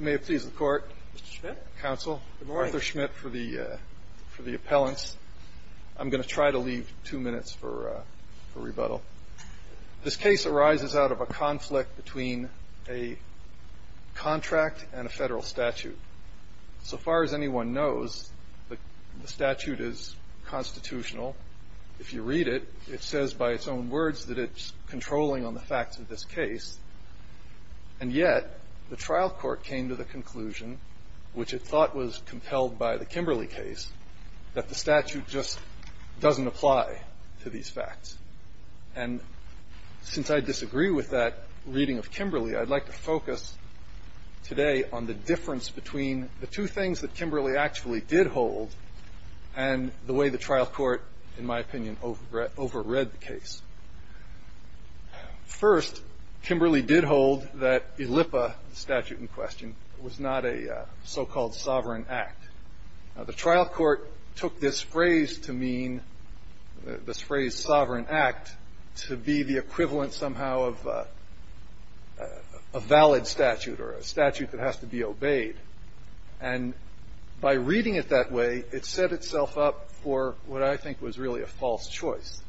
May it please the Court, Mr. Schmidt, counsel, Arthur Schmidt for the appellants. I'm going to try to leave two minutes for rebuttal. This case arises out of a conflict between a contract and a federal statute. So far as anyone knows, the statute is constitutional. If you read it, it says by its own words that it's controlling on the facts of this case. And yet, the trial court came to the conclusion, which it thought was compelled by the Kimberley case, that the statute just doesn't apply to these facts. And since I disagree with that reading of Kimberley, I'd like to focus today on the difference between the two things that Kimberley actually did hold and the way the trial court, in my opinion, overread the case. First, Kimberley did hold that ELIPA, the statute in question, was not a so-called sovereign act. Now, the trial court took this phrase to mean, this phrase, sovereign act, to be the equivalent somehow of a valid statute or a statute that has to be obeyed. And by reading it that way, it set itself up for what I think was really a false choice,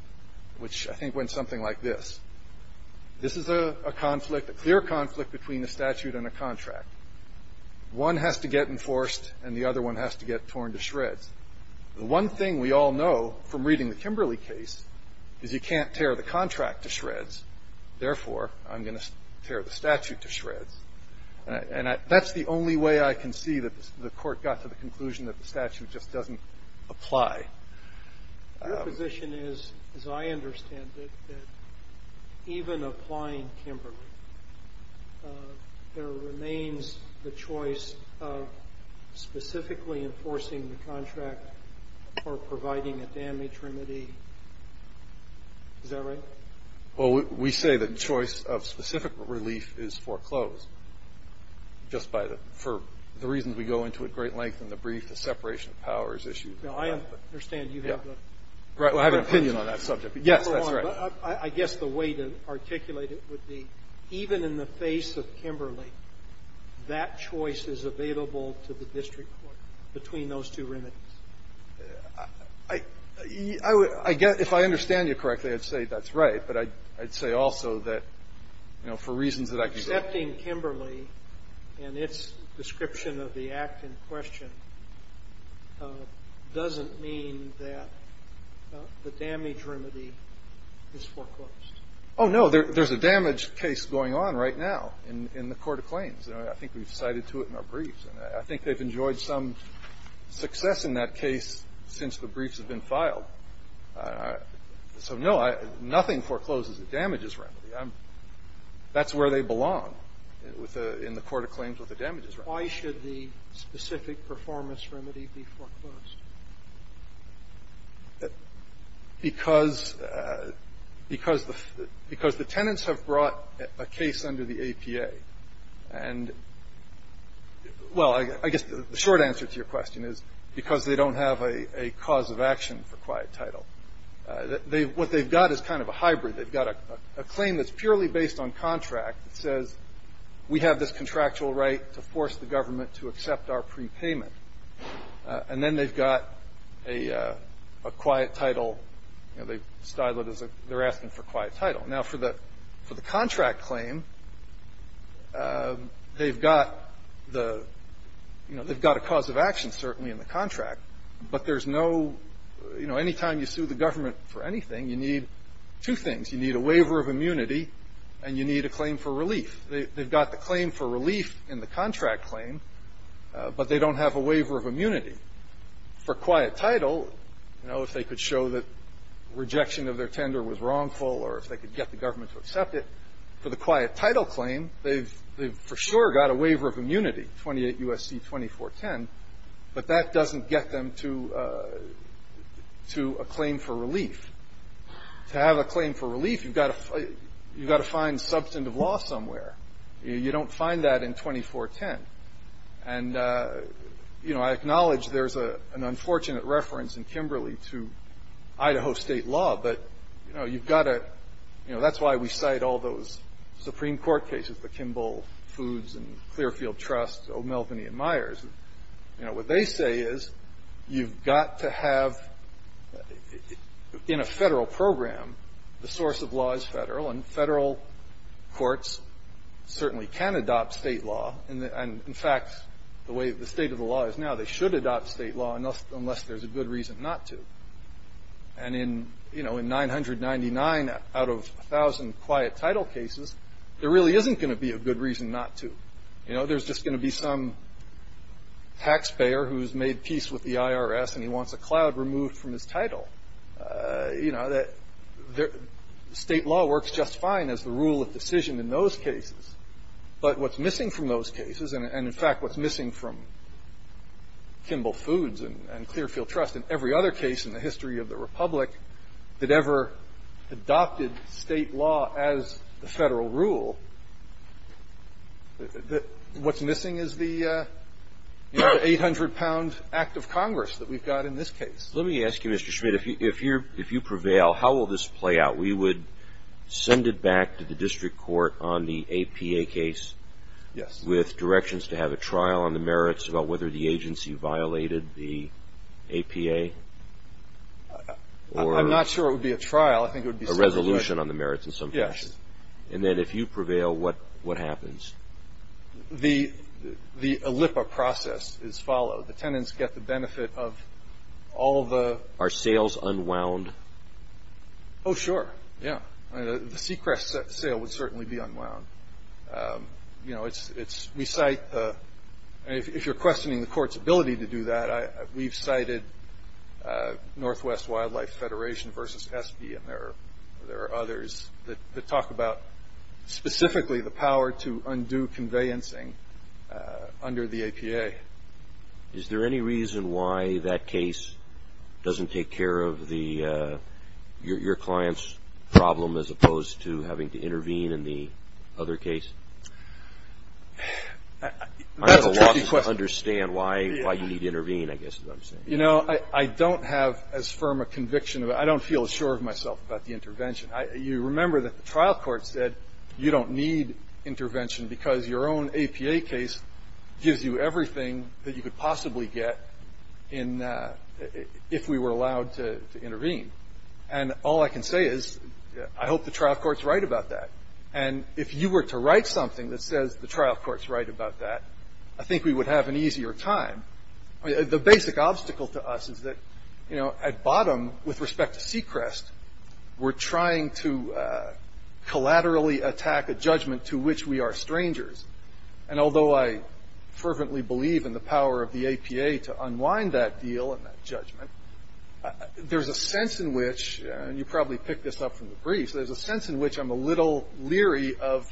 which I think went something like this. This is a conflict, a clear conflict, between a statute and a contract. One has to get enforced, and the other one has to get torn to shreds. The one thing we all know from reading the Kimberley case is you can't tear the contract to shreds. Therefore, I'm going to tear the statute to shreds. And that's the only way I can see that the court got to the conclusion that the statute just doesn't apply. Your position is, as I understand it, that even applying Kimberley, there remains the choice of specifically enforcing the contract or providing a damage remedy. Is that right? Well, we say the choice of specific relief is foreclosed, just by the – for the reasons we go into at great length in the brief, the separation of powers issue. Now, I understand you have an opinion on that subject. Yes, that's right. I guess the way to articulate it would be, even in the face of Kimberley, that choice is available to the district court between those two remedies. I would – I guess if I understand you correctly, I'd say that's right. But I'd say also that, you know, for reasons that I can say – And its description of the act in question doesn't mean that the damage remedy is foreclosed. Oh, no. There's a damage case going on right now in the court of claims. I think we've cited to it in our briefs. I think they've enjoyed some success in that case since the briefs have been filed. So, no, I – nothing forecloses a damages remedy. I'm – that's where they belong with the – in the court of claims with the damages remedy. Why should the specific performance remedy be foreclosed? Because – because the – because the tenants have brought a case under the APA. And, well, I guess the short answer to your question is because they don't have a cause of action for quiet title. They – what they've got is kind of a hybrid. They've got a claim that's purely based on contract that says, we have this contractual right to force the government to accept our prepayment. And then they've got a quiet title. You know, they've styled it as a – they're asking for quiet title. Now, for the – for the contract claim, they've got the – you know, they've got a cause of action, certainly, in the contract. But there's no – you know, anytime you sue the government for anything, you need two things. You need a waiver of immunity, and you need a claim for relief. They've got the claim for relief in the contract claim, but they don't have a waiver of immunity. For quiet title, you know, if they could show that rejection of their tender was wrongful or if they could get the government to accept it, for the quiet title claim, they've – they've for sure got a waiver of immunity, 28 U.S.C. 2410, but that doesn't get them to – to a claim for relief. To have a claim for relief, you've got to – you've got to find substantive law somewhere. You don't find that in 2410. And, you know, I acknowledge there's an unfortunate reference in Kimberley to Idaho state law, but, you know, you've got to – you know, that's why we cite all those Supreme Court cases, the Kimball Foods and Clearfield Trust, O'Melveny and Myers. You know, what they say is you've got to have – in a Federal program, the source of law is Federal, and Federal courts certainly can adopt state law. And, in fact, the way the state of the law is now, they should adopt state law unless there's a good reason not to. And in, you know, in 999 out of 1,000 quiet title cases, there really isn't going to be a good reason not to. You know, there's just going to be some taxpayer who's made peace with the IRS and he wants a cloud removed from his title. You know, the state law works just fine as the rule of decision in those cases. But what's missing from those cases, and, in fact, what's missing from Kimball Foods and Clearfield Trust and every other case in the history of the Republic that ever adopted state law as the Federal rule, what's missing is the 800-pound Act of Congress that we've got in this case. Let me ask you, Mr. Schmidt, if you prevail, how will this play out? We would send it back to the district court on the APA case with directions to have a trial on the merits about whether the agency violated the APA or – I'm not sure it would be a trial. A resolution on the merits in some fashion. Yes. And then if you prevail, what happens? The ALIPPA process is followed. The tenants get the benefit of all of the – Are sales unwound? Oh, sure. Yeah. The Seacrest sale would certainly be unwound. You know, it's – we cite – if you're questioning the court's ability to do that, we've cited Northwest Wildlife Federation versus ESPE and there are others that talk about specifically the power to undo conveyancing under the APA. Is there any reason why that case doesn't take care of the – your client's problem as opposed to having to intervene in the other case? That's a tricky question. I don't understand why you need to intervene, I guess is what I'm saying. You know, I don't have as firm a conviction about – I don't feel as sure of myself about the intervention. You remember that the trial court said you don't need intervention because your own APA case gives you everything that you could possibly get in – if we were allowed to intervene. And all I can say is I hope the trial court's right about that. And if you were to write something that says the trial court's right about that, I think we would have an easier time. The basic obstacle to us is that, you know, at bottom, with respect to Seacrest, we're trying to collaterally attack a judgment to which we are strangers. And although I fervently believe in the power of the APA to unwind that deal and that judgment, there's a sense in which – and you probably picked this up from the briefs – there's a sense in which I'm a little leery of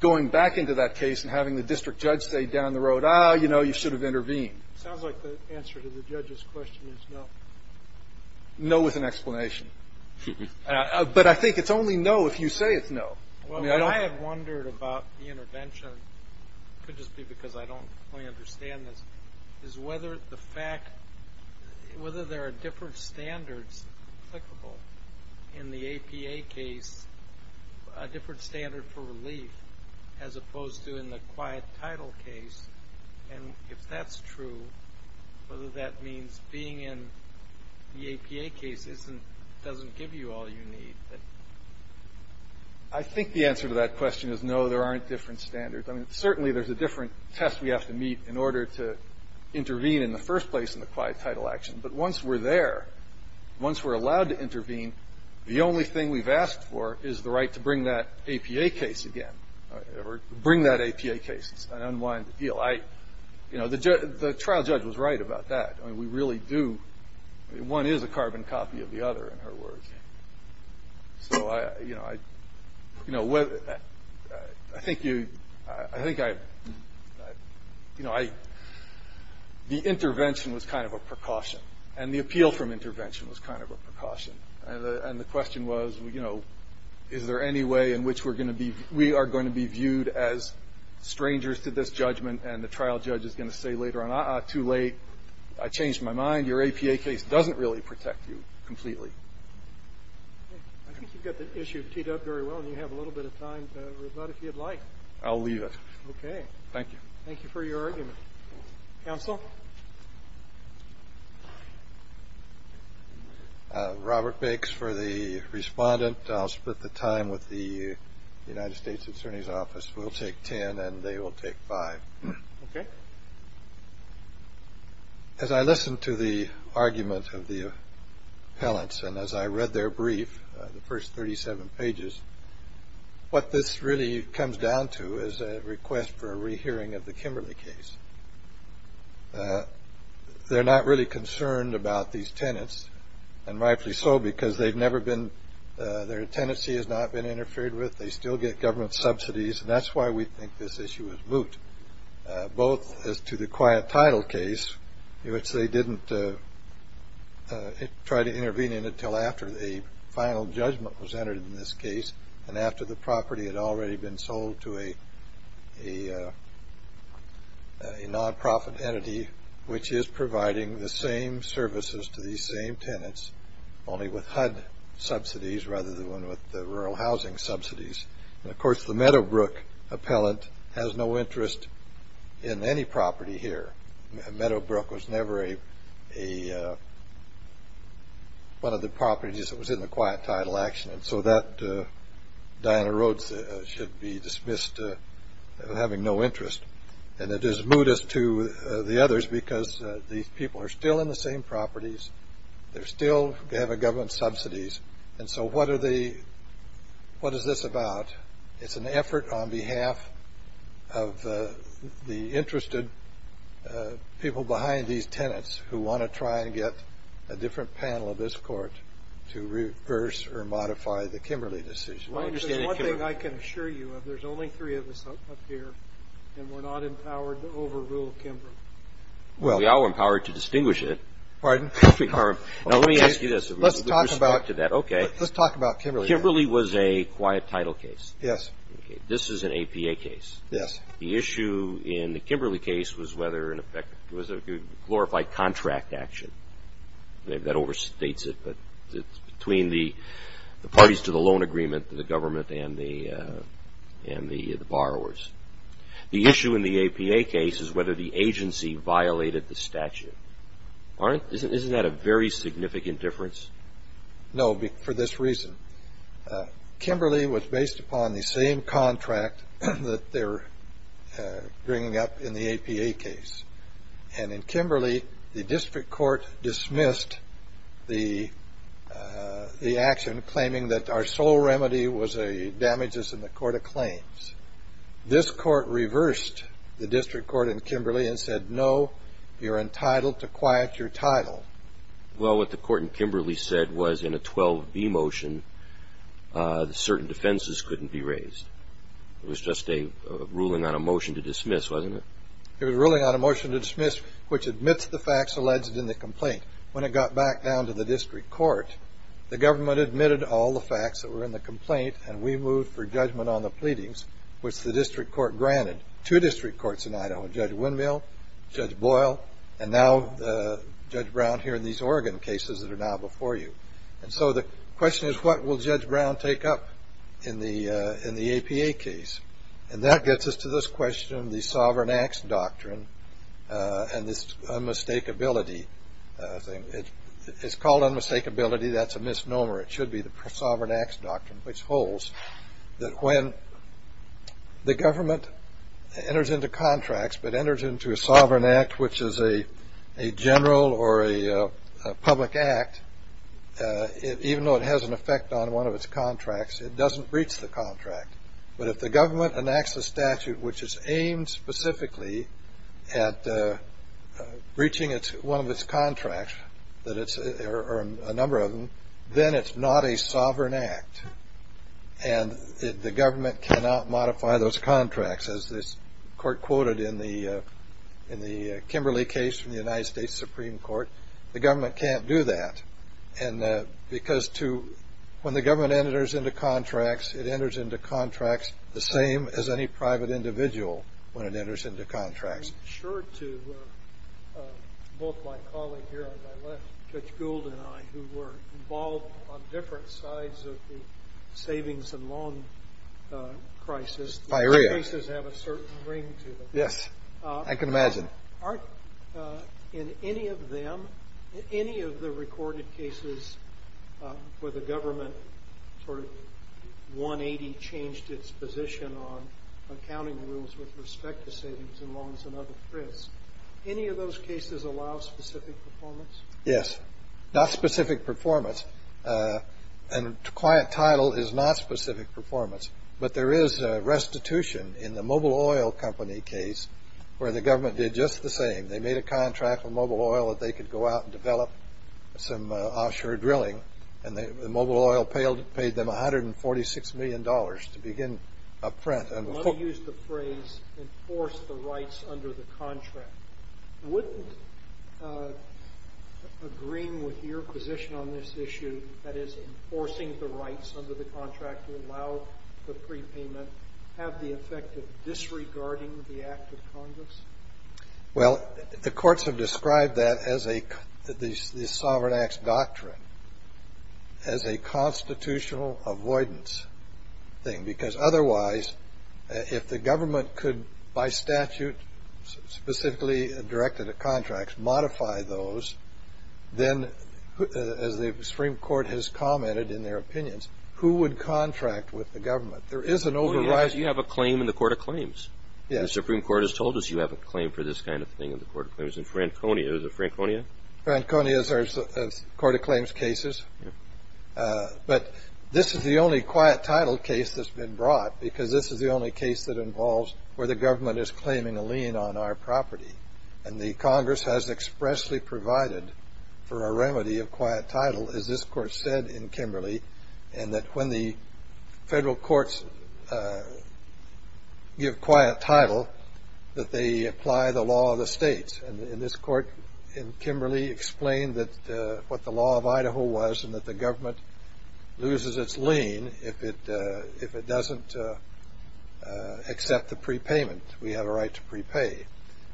going back into that case and having the district judge say down the road, ah, you know, you should have intervened. It sounds like the answer to the judge's question is no. No is an explanation. But I think it's only no if you say it's no. Well, what I have wondered about the intervention – it could just be because I don't fully understand this – is whether the fact – whether there are different standards applicable in the APA case, a different standard for relief, as opposed to in the quiet title case. And if that's true, whether that means being in the APA case isn't – doesn't give you all you need. I think the answer to that question is no, there aren't different standards. I mean, certainly there's a different test we have to meet in order to intervene in the first place in the quiet title action. But once we're there, once we're allowed to intervene, the only thing we've asked for is the right to bring that APA case again, or bring that APA case, an unwind appeal. You know, the trial judge was right about that. I mean, we really do – I mean, one is a carbon copy of the other, in her words. So I – you know, I think you – I think I – you know, I – the intervention was kind of a precaution. And the appeal from intervention was kind of a precaution. And the question was, you know, is there any way in which we're going to be – we are going to be viewed as strangers to this judgment, and the trial judge is going to say later on, uh-uh, too late, I changed my mind, your APA case doesn't really protect you completely. I think you've got the issue teed up very well, and you have a little bit of time to rebut if you'd like. I'll leave it. Okay. Thank you. Thank you for your argument. Counsel? Robert Bakes for the respondent. I'll split the time with the United States Attorney's Office. We'll take ten and they will take five. Okay. As I listened to the argument of the appellants, and as I read their brief, the first 37 pages, what this really comes down to is a request for a rehearing of the Kimberley case. They're not really concerned about these tenants, and rightfully so, because they've never been – their tenancy has not been interfered with. They still get government subsidies, and that's why we think this issue is moot, both as to the quiet title case, in which they didn't try to intervene in until after a final judgment was entered in this case, and after the property had already been sold to a non-profit entity, which is providing the same services to these same tenants, only with HUD subsidies rather than with the rural housing subsidies. And, of course, the Meadowbrook appellant has no interest in any property here. Meadowbrook was never a – one of the properties that was in the quiet title action, and so that Diana Rhodes should be dismissed having no interest. And it is moot as to the others, because these people are still in the same properties. They're still – they have government subsidies. And so what are they – what is this about? It's an effort on behalf of the interested people behind these tenants who want to try and get a different panel of this Court to reverse or modify the Kimberley decision. I understand that, Your Honor. Well, there's one thing I can assure you of. There's only three of us up here, and we're not empowered to overrule Kimberley. Well – We are empowered to distinguish it. Pardon? No, let me ask you this. Okay. Let's talk about – With respect to that, okay. Let's talk about Kimberley. Kimberley was a quiet title case. Yes. Okay. This is an APA case. Yes. The issue in the Kimberley case was whether, in effect, it was a glorified contract action. That overstates it, but it's between the parties to the loan agreement, the government and the – and the borrowers. The issue in the APA case is whether the agency violated the statute. Aren't – isn't that a very significant difference? No, for this reason. Kimberley was based upon the same contract that they're bringing up in the APA case. And in Kimberley, the district court dismissed the action, claiming that our sole remedy was a damages in the court of claims. This court reversed the district court in Kimberley and said, no, you're entitled to quiet your title. Well, what the court in Kimberley said was, in a 12B motion, certain defenses couldn't be raised. It was just a ruling on a motion to dismiss, wasn't it? It was a ruling on a motion to dismiss, which admits the facts alleged in the complaint. When it got back down to the district court, the government admitted all the facts that were in the complaint, and we moved for judgment on the pleadings, which the district court granted. We had two district courts in Idaho, Judge Windmill, Judge Boyle, and now Judge Brown here in these Oregon cases that are now before you. And so the question is, what will Judge Brown take up in the APA case? And that gets us to this question, the sovereign acts doctrine, and this unmistakability thing. It's called unmistakability. That's a misnomer. It should be the sovereign acts doctrine, which holds that when the government enters into contracts but enters into a sovereign act, which is a general or a public act, even though it has an effect on one of its contracts, it doesn't breach the contract. But if the government enacts a statute which is aimed specifically at breaching one of its contracts, or a number of them, then it's not a sovereign act. And the government cannot modify those contracts. As the Court quoted in the Kimberly case from the United States Supreme Court, the government can't do that, because when the government enters into contracts, it enters into contracts the same as any private individual when it enters into contracts. I'm sure to both my colleague here on my left, Judge Gould, and I, who were involved on different sides of the savings and loan crisis, the cases have a certain ring to them. Yes. I can imagine. Aren't in any of them, in any of the recorded cases where the government sort of 180 changed its position on accounting rules with respect to savings and loans and other risks, any of those cases allow specific performance? Yes. Not specific performance. And quiet title is not specific performance. But there is restitution in the Mobil Oil Company case, where the government did just the same. They made a contract with Mobil Oil that they could go out and develop some offshore drilling. And the Mobil Oil paid them $146 million to begin up front and to focus on the drilling. Let me use the phrase, enforce the rights under the contract. Wouldn't agreeing with your position on this issue, that is, enforcing the rights under the contract to allow the prepayment, have the effect of disregarding the Act of Congress? Well, the courts have described that as a, the Sovereign Act's doctrine, as a constitutional avoidance thing. Because otherwise, if the government could, by statute, specifically directed to contracts, modify those, then, as the Supreme Court has commented in their opinions, who would contract with the government? There is an overriding. You have a claim in the Court of Claims. Yes. The Supreme Court has told us you have a claim for this kind of thing in the Court of Claims. In Franconia, is it Franconia? Franconia's Court of Claims cases. But this is the only quiet title case that's been brought, because this is the only case that involves where the government is claiming a lien on our property. And the Congress has expressly provided for a remedy of quiet title, as this court said in Kimberley, and that when the federal courts give quiet title, that they apply the law of the states. And in this court, in Kimberley, explained what the law of Idaho was, and that the government loses its lien if it doesn't accept the prepayment. We have a right to prepay.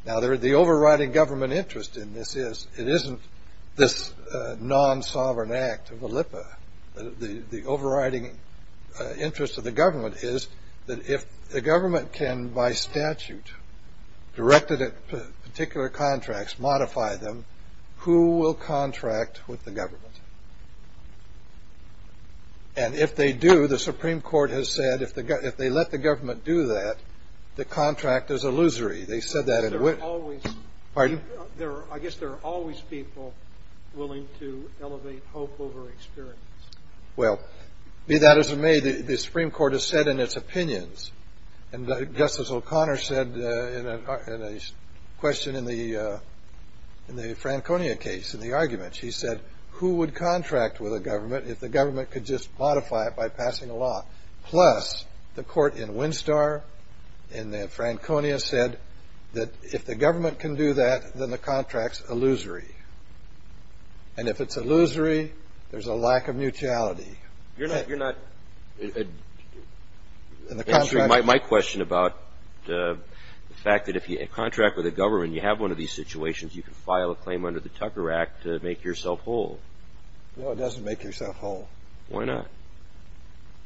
Now, the overriding government interest in this is, the overriding interest of the government is that if the government can, by statute, directed at particular contracts, modify them, who will contract with the government? And if they do, the Supreme Court has said, if they let the government do that, the contract is illusory. They said that in Witt. Pardon? I guess there are always people willing to elevate hope over experience. Well, be that as it may, the Supreme Court has said in its opinions, and Justice O'Connor said in a question in the Franconia case, in the argument, she said, who would contract with a government if the government could just modify it by passing a law? Plus, the court in Winstar, in the Franconia, said that if the government can do that, then the contract's illusory. And if it's illusory, there's a lack of mutuality. You're not answering my question about the fact that if you contract with a government, you have one of these situations, you can file a claim under the Tucker Act to make yourself whole. No, it doesn't make yourself whole. Why not?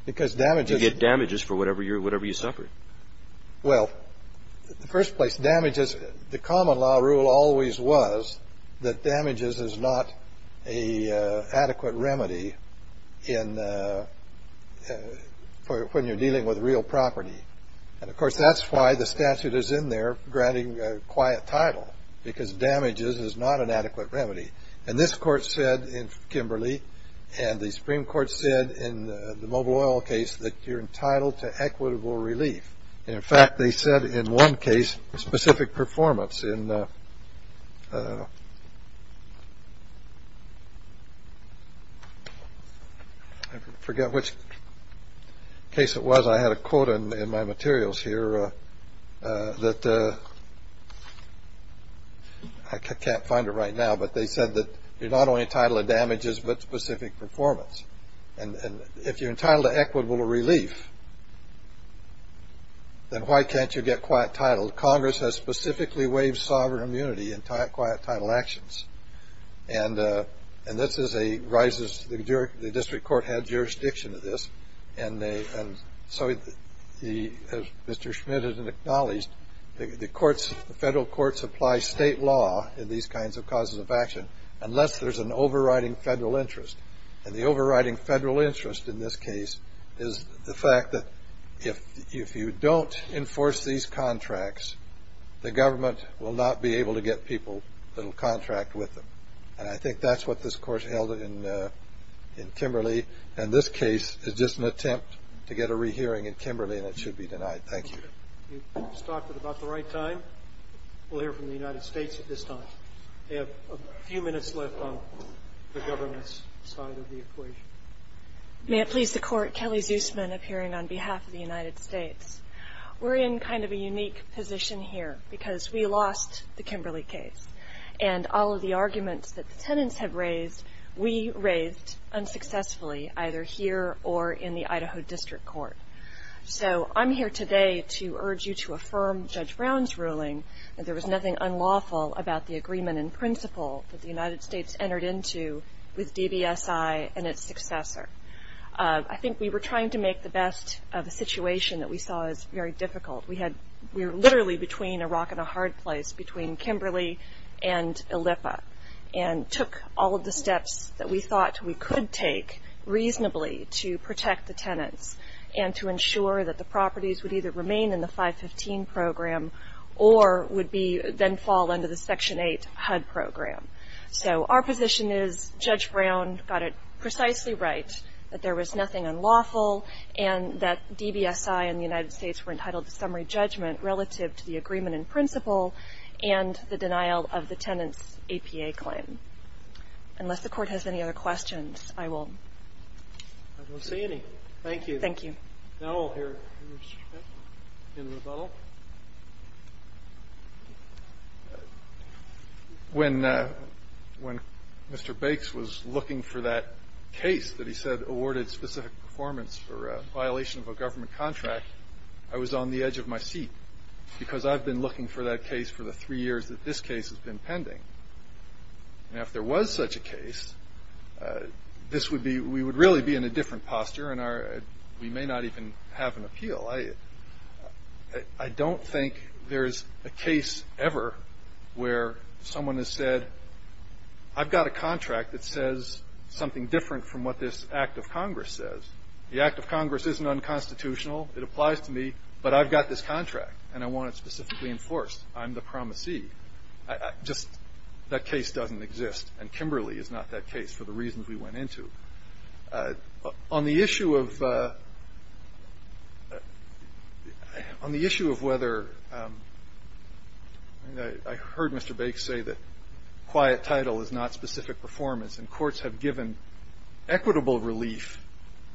Because damages- You get damages for whatever you suffered. Well, in the first place, damages, the common law rule always was that damages is not a adequate remedy when you're dealing with real property. And of course, that's why the statute is in there granting a quiet title, because damages is not an adequate remedy. And this court said in Kimberly, and the Supreme Court said in the Mobile Oil case, that you're entitled to equitable relief. And in fact, they said in one case, specific performance. And I forget which case it was. I had a quote in my materials here that I can't find it right now. But they said that you're not only entitled to damages, but specific performance. And if you're entitled to equitable relief, then why can't you get quiet title? Congress has specifically waived sovereign immunity in quiet title actions. And this is a rises, the district court had jurisdiction of this. And so as Mr. Schmidt has acknowledged, the federal courts apply state law in these kinds of causes of action, unless there's an overriding federal interest. And the overriding federal interest in this case is the fact that if you don't enforce these contracts, the government will not be able to get people that will contract with them. And I think that's what this court held in Kimberly. And this case is just an attempt to get a rehearing in Kimberly, and it should be denied. Thank you. You stopped at about the right time. We'll hear from the United States at this time. We have a few minutes left on the government's side of the equation. May it please the court, Kelly Zusman, appearing on behalf of the United States. We're in kind of a unique position here, because we lost the Kimberly case. And all of the arguments that the tenants have raised, we raised unsuccessfully, either here or in the Idaho District Court. So I'm here today to urge you to affirm Judge Brown's ruling that there was nothing unlawful about the agreement in principle that the United States entered into with DBSI and its successor. I think we were trying to make the best of a situation that we saw as very difficult. We were literally between a rock and a hard place, between Kimberly and ILLIPA, and took all of the steps that we thought we could take reasonably to protect the tenants and to ensure that the properties would either remain in the 515 program or would then fall under the Section 8 HUD program. So our position is Judge Brown got it precisely right, that there was nothing unlawful, and that DBSI and the United States were entitled to summary judgment relative to the agreement in principle and the denial of the tenants' APA claim. Unless the court has any other questions, I will. I don't see any. Thank you. Thank you. Now we'll hear from Mr. Schmidt in rebuttal. When Mr. Bakes was looking for that case that he said awarded specific performance for a violation of a government contract, I was on the edge of my seat because I've been looking for that case for the three years that this case has been pending. And if there was such a case, this would be we would really be in a different posture, and we may not even have an appeal. I don't think there's a case ever where someone has said, I've got a contract that says something different from what this Act of Congress says. The Act of Congress isn't unconstitutional. It applies to me, but I've got this contract, and I want it specifically enforced. I'm the promisee. Just that case doesn't exist, and Kimberly is not that case for the reasons we went into. On the issue of whether – I heard Mr. Bakes say that quiet title is not specific performance, and courts have given equitable relief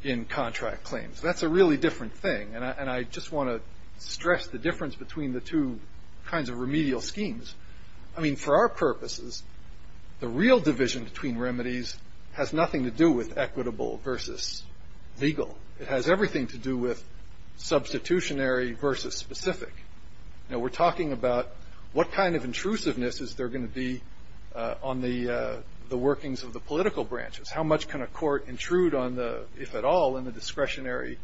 in contract claims. That's a really different thing, and I just want to stress the difference between the two kinds of remedial schemes. I mean, for our purposes, the real division between remedies has nothing to do with equitable versus legal. It has everything to do with substitutionary versus specific. You know, we're talking about what kind of intrusiveness is there going to be on the workings of the political branches. How much can a court intrude on the, if at all, on the discretionary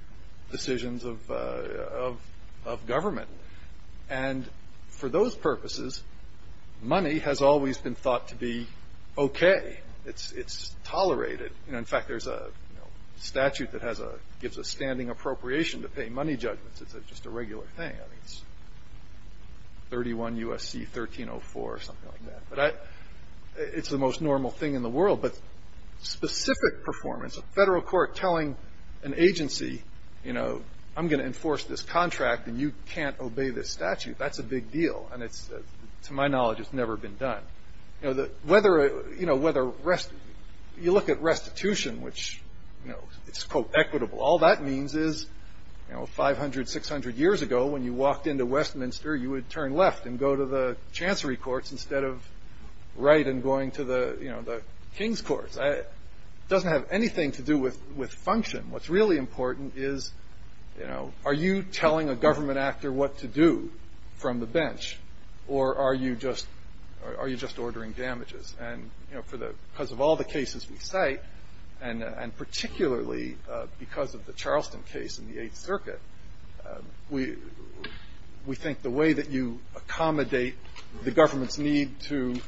decisions of government? And for those purposes, money has always been thought to be okay. It's tolerated. In fact, there's a statute that gives a standing appropriation to pay money judgments. It's just a regular thing. I mean, it's 31 U.S.C. 1304 or something like that. But it's the most normal thing in the world. But specific performance, a Federal court telling an agency, you know, I'm going to enforce this contract, and you can't obey this statute, that's a big deal. And it's, to my knowledge, it's never been done. You know, whether, you know, whether rest, you look at restitution, which, you know, it's, quote, equitable, all that means is, you know, 500, 600 years ago, when you walked into Westminster, you would turn left and go to the chancery courts instead of right and going to the, you know, the king's courts. It doesn't have anything to do with function. What's really important is, you know, are you telling a government actor what to do from the bench, or are you just ordering damages? And, you know, for the, because of all the cases we cite, and particularly because of the Charleston case in the Eighth Circuit, we think the way that you accommodate the government's need to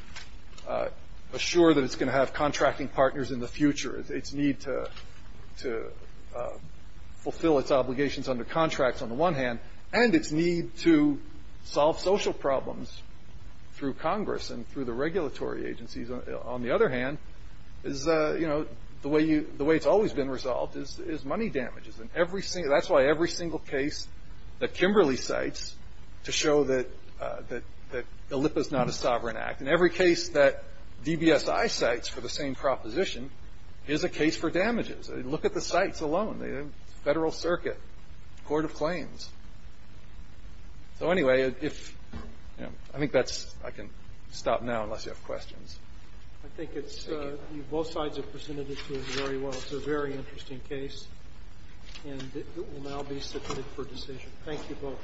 assure that it's going to have contracting partners in the future, its need to fulfill its obligations under contracts on the one hand, and its need to solve social problems through Congress and through the regulatory agencies, on the other hand, is, you know, the way you, the way it's always been resolved is money damages. And every single, that's why every single case that Kimberly cites to show that ELIPA is not a sovereign act, in every case that DBSI cites for the same proposition is a case for damages. Look at the cites alone, the Federal Circuit, Court of Claims. So, anyway, if, you know, I think that's, I can stop now unless you have questions. I think it's, both sides have presented it to us very well. It's a very interesting case, and it will now be submitted for decision. Thank you both.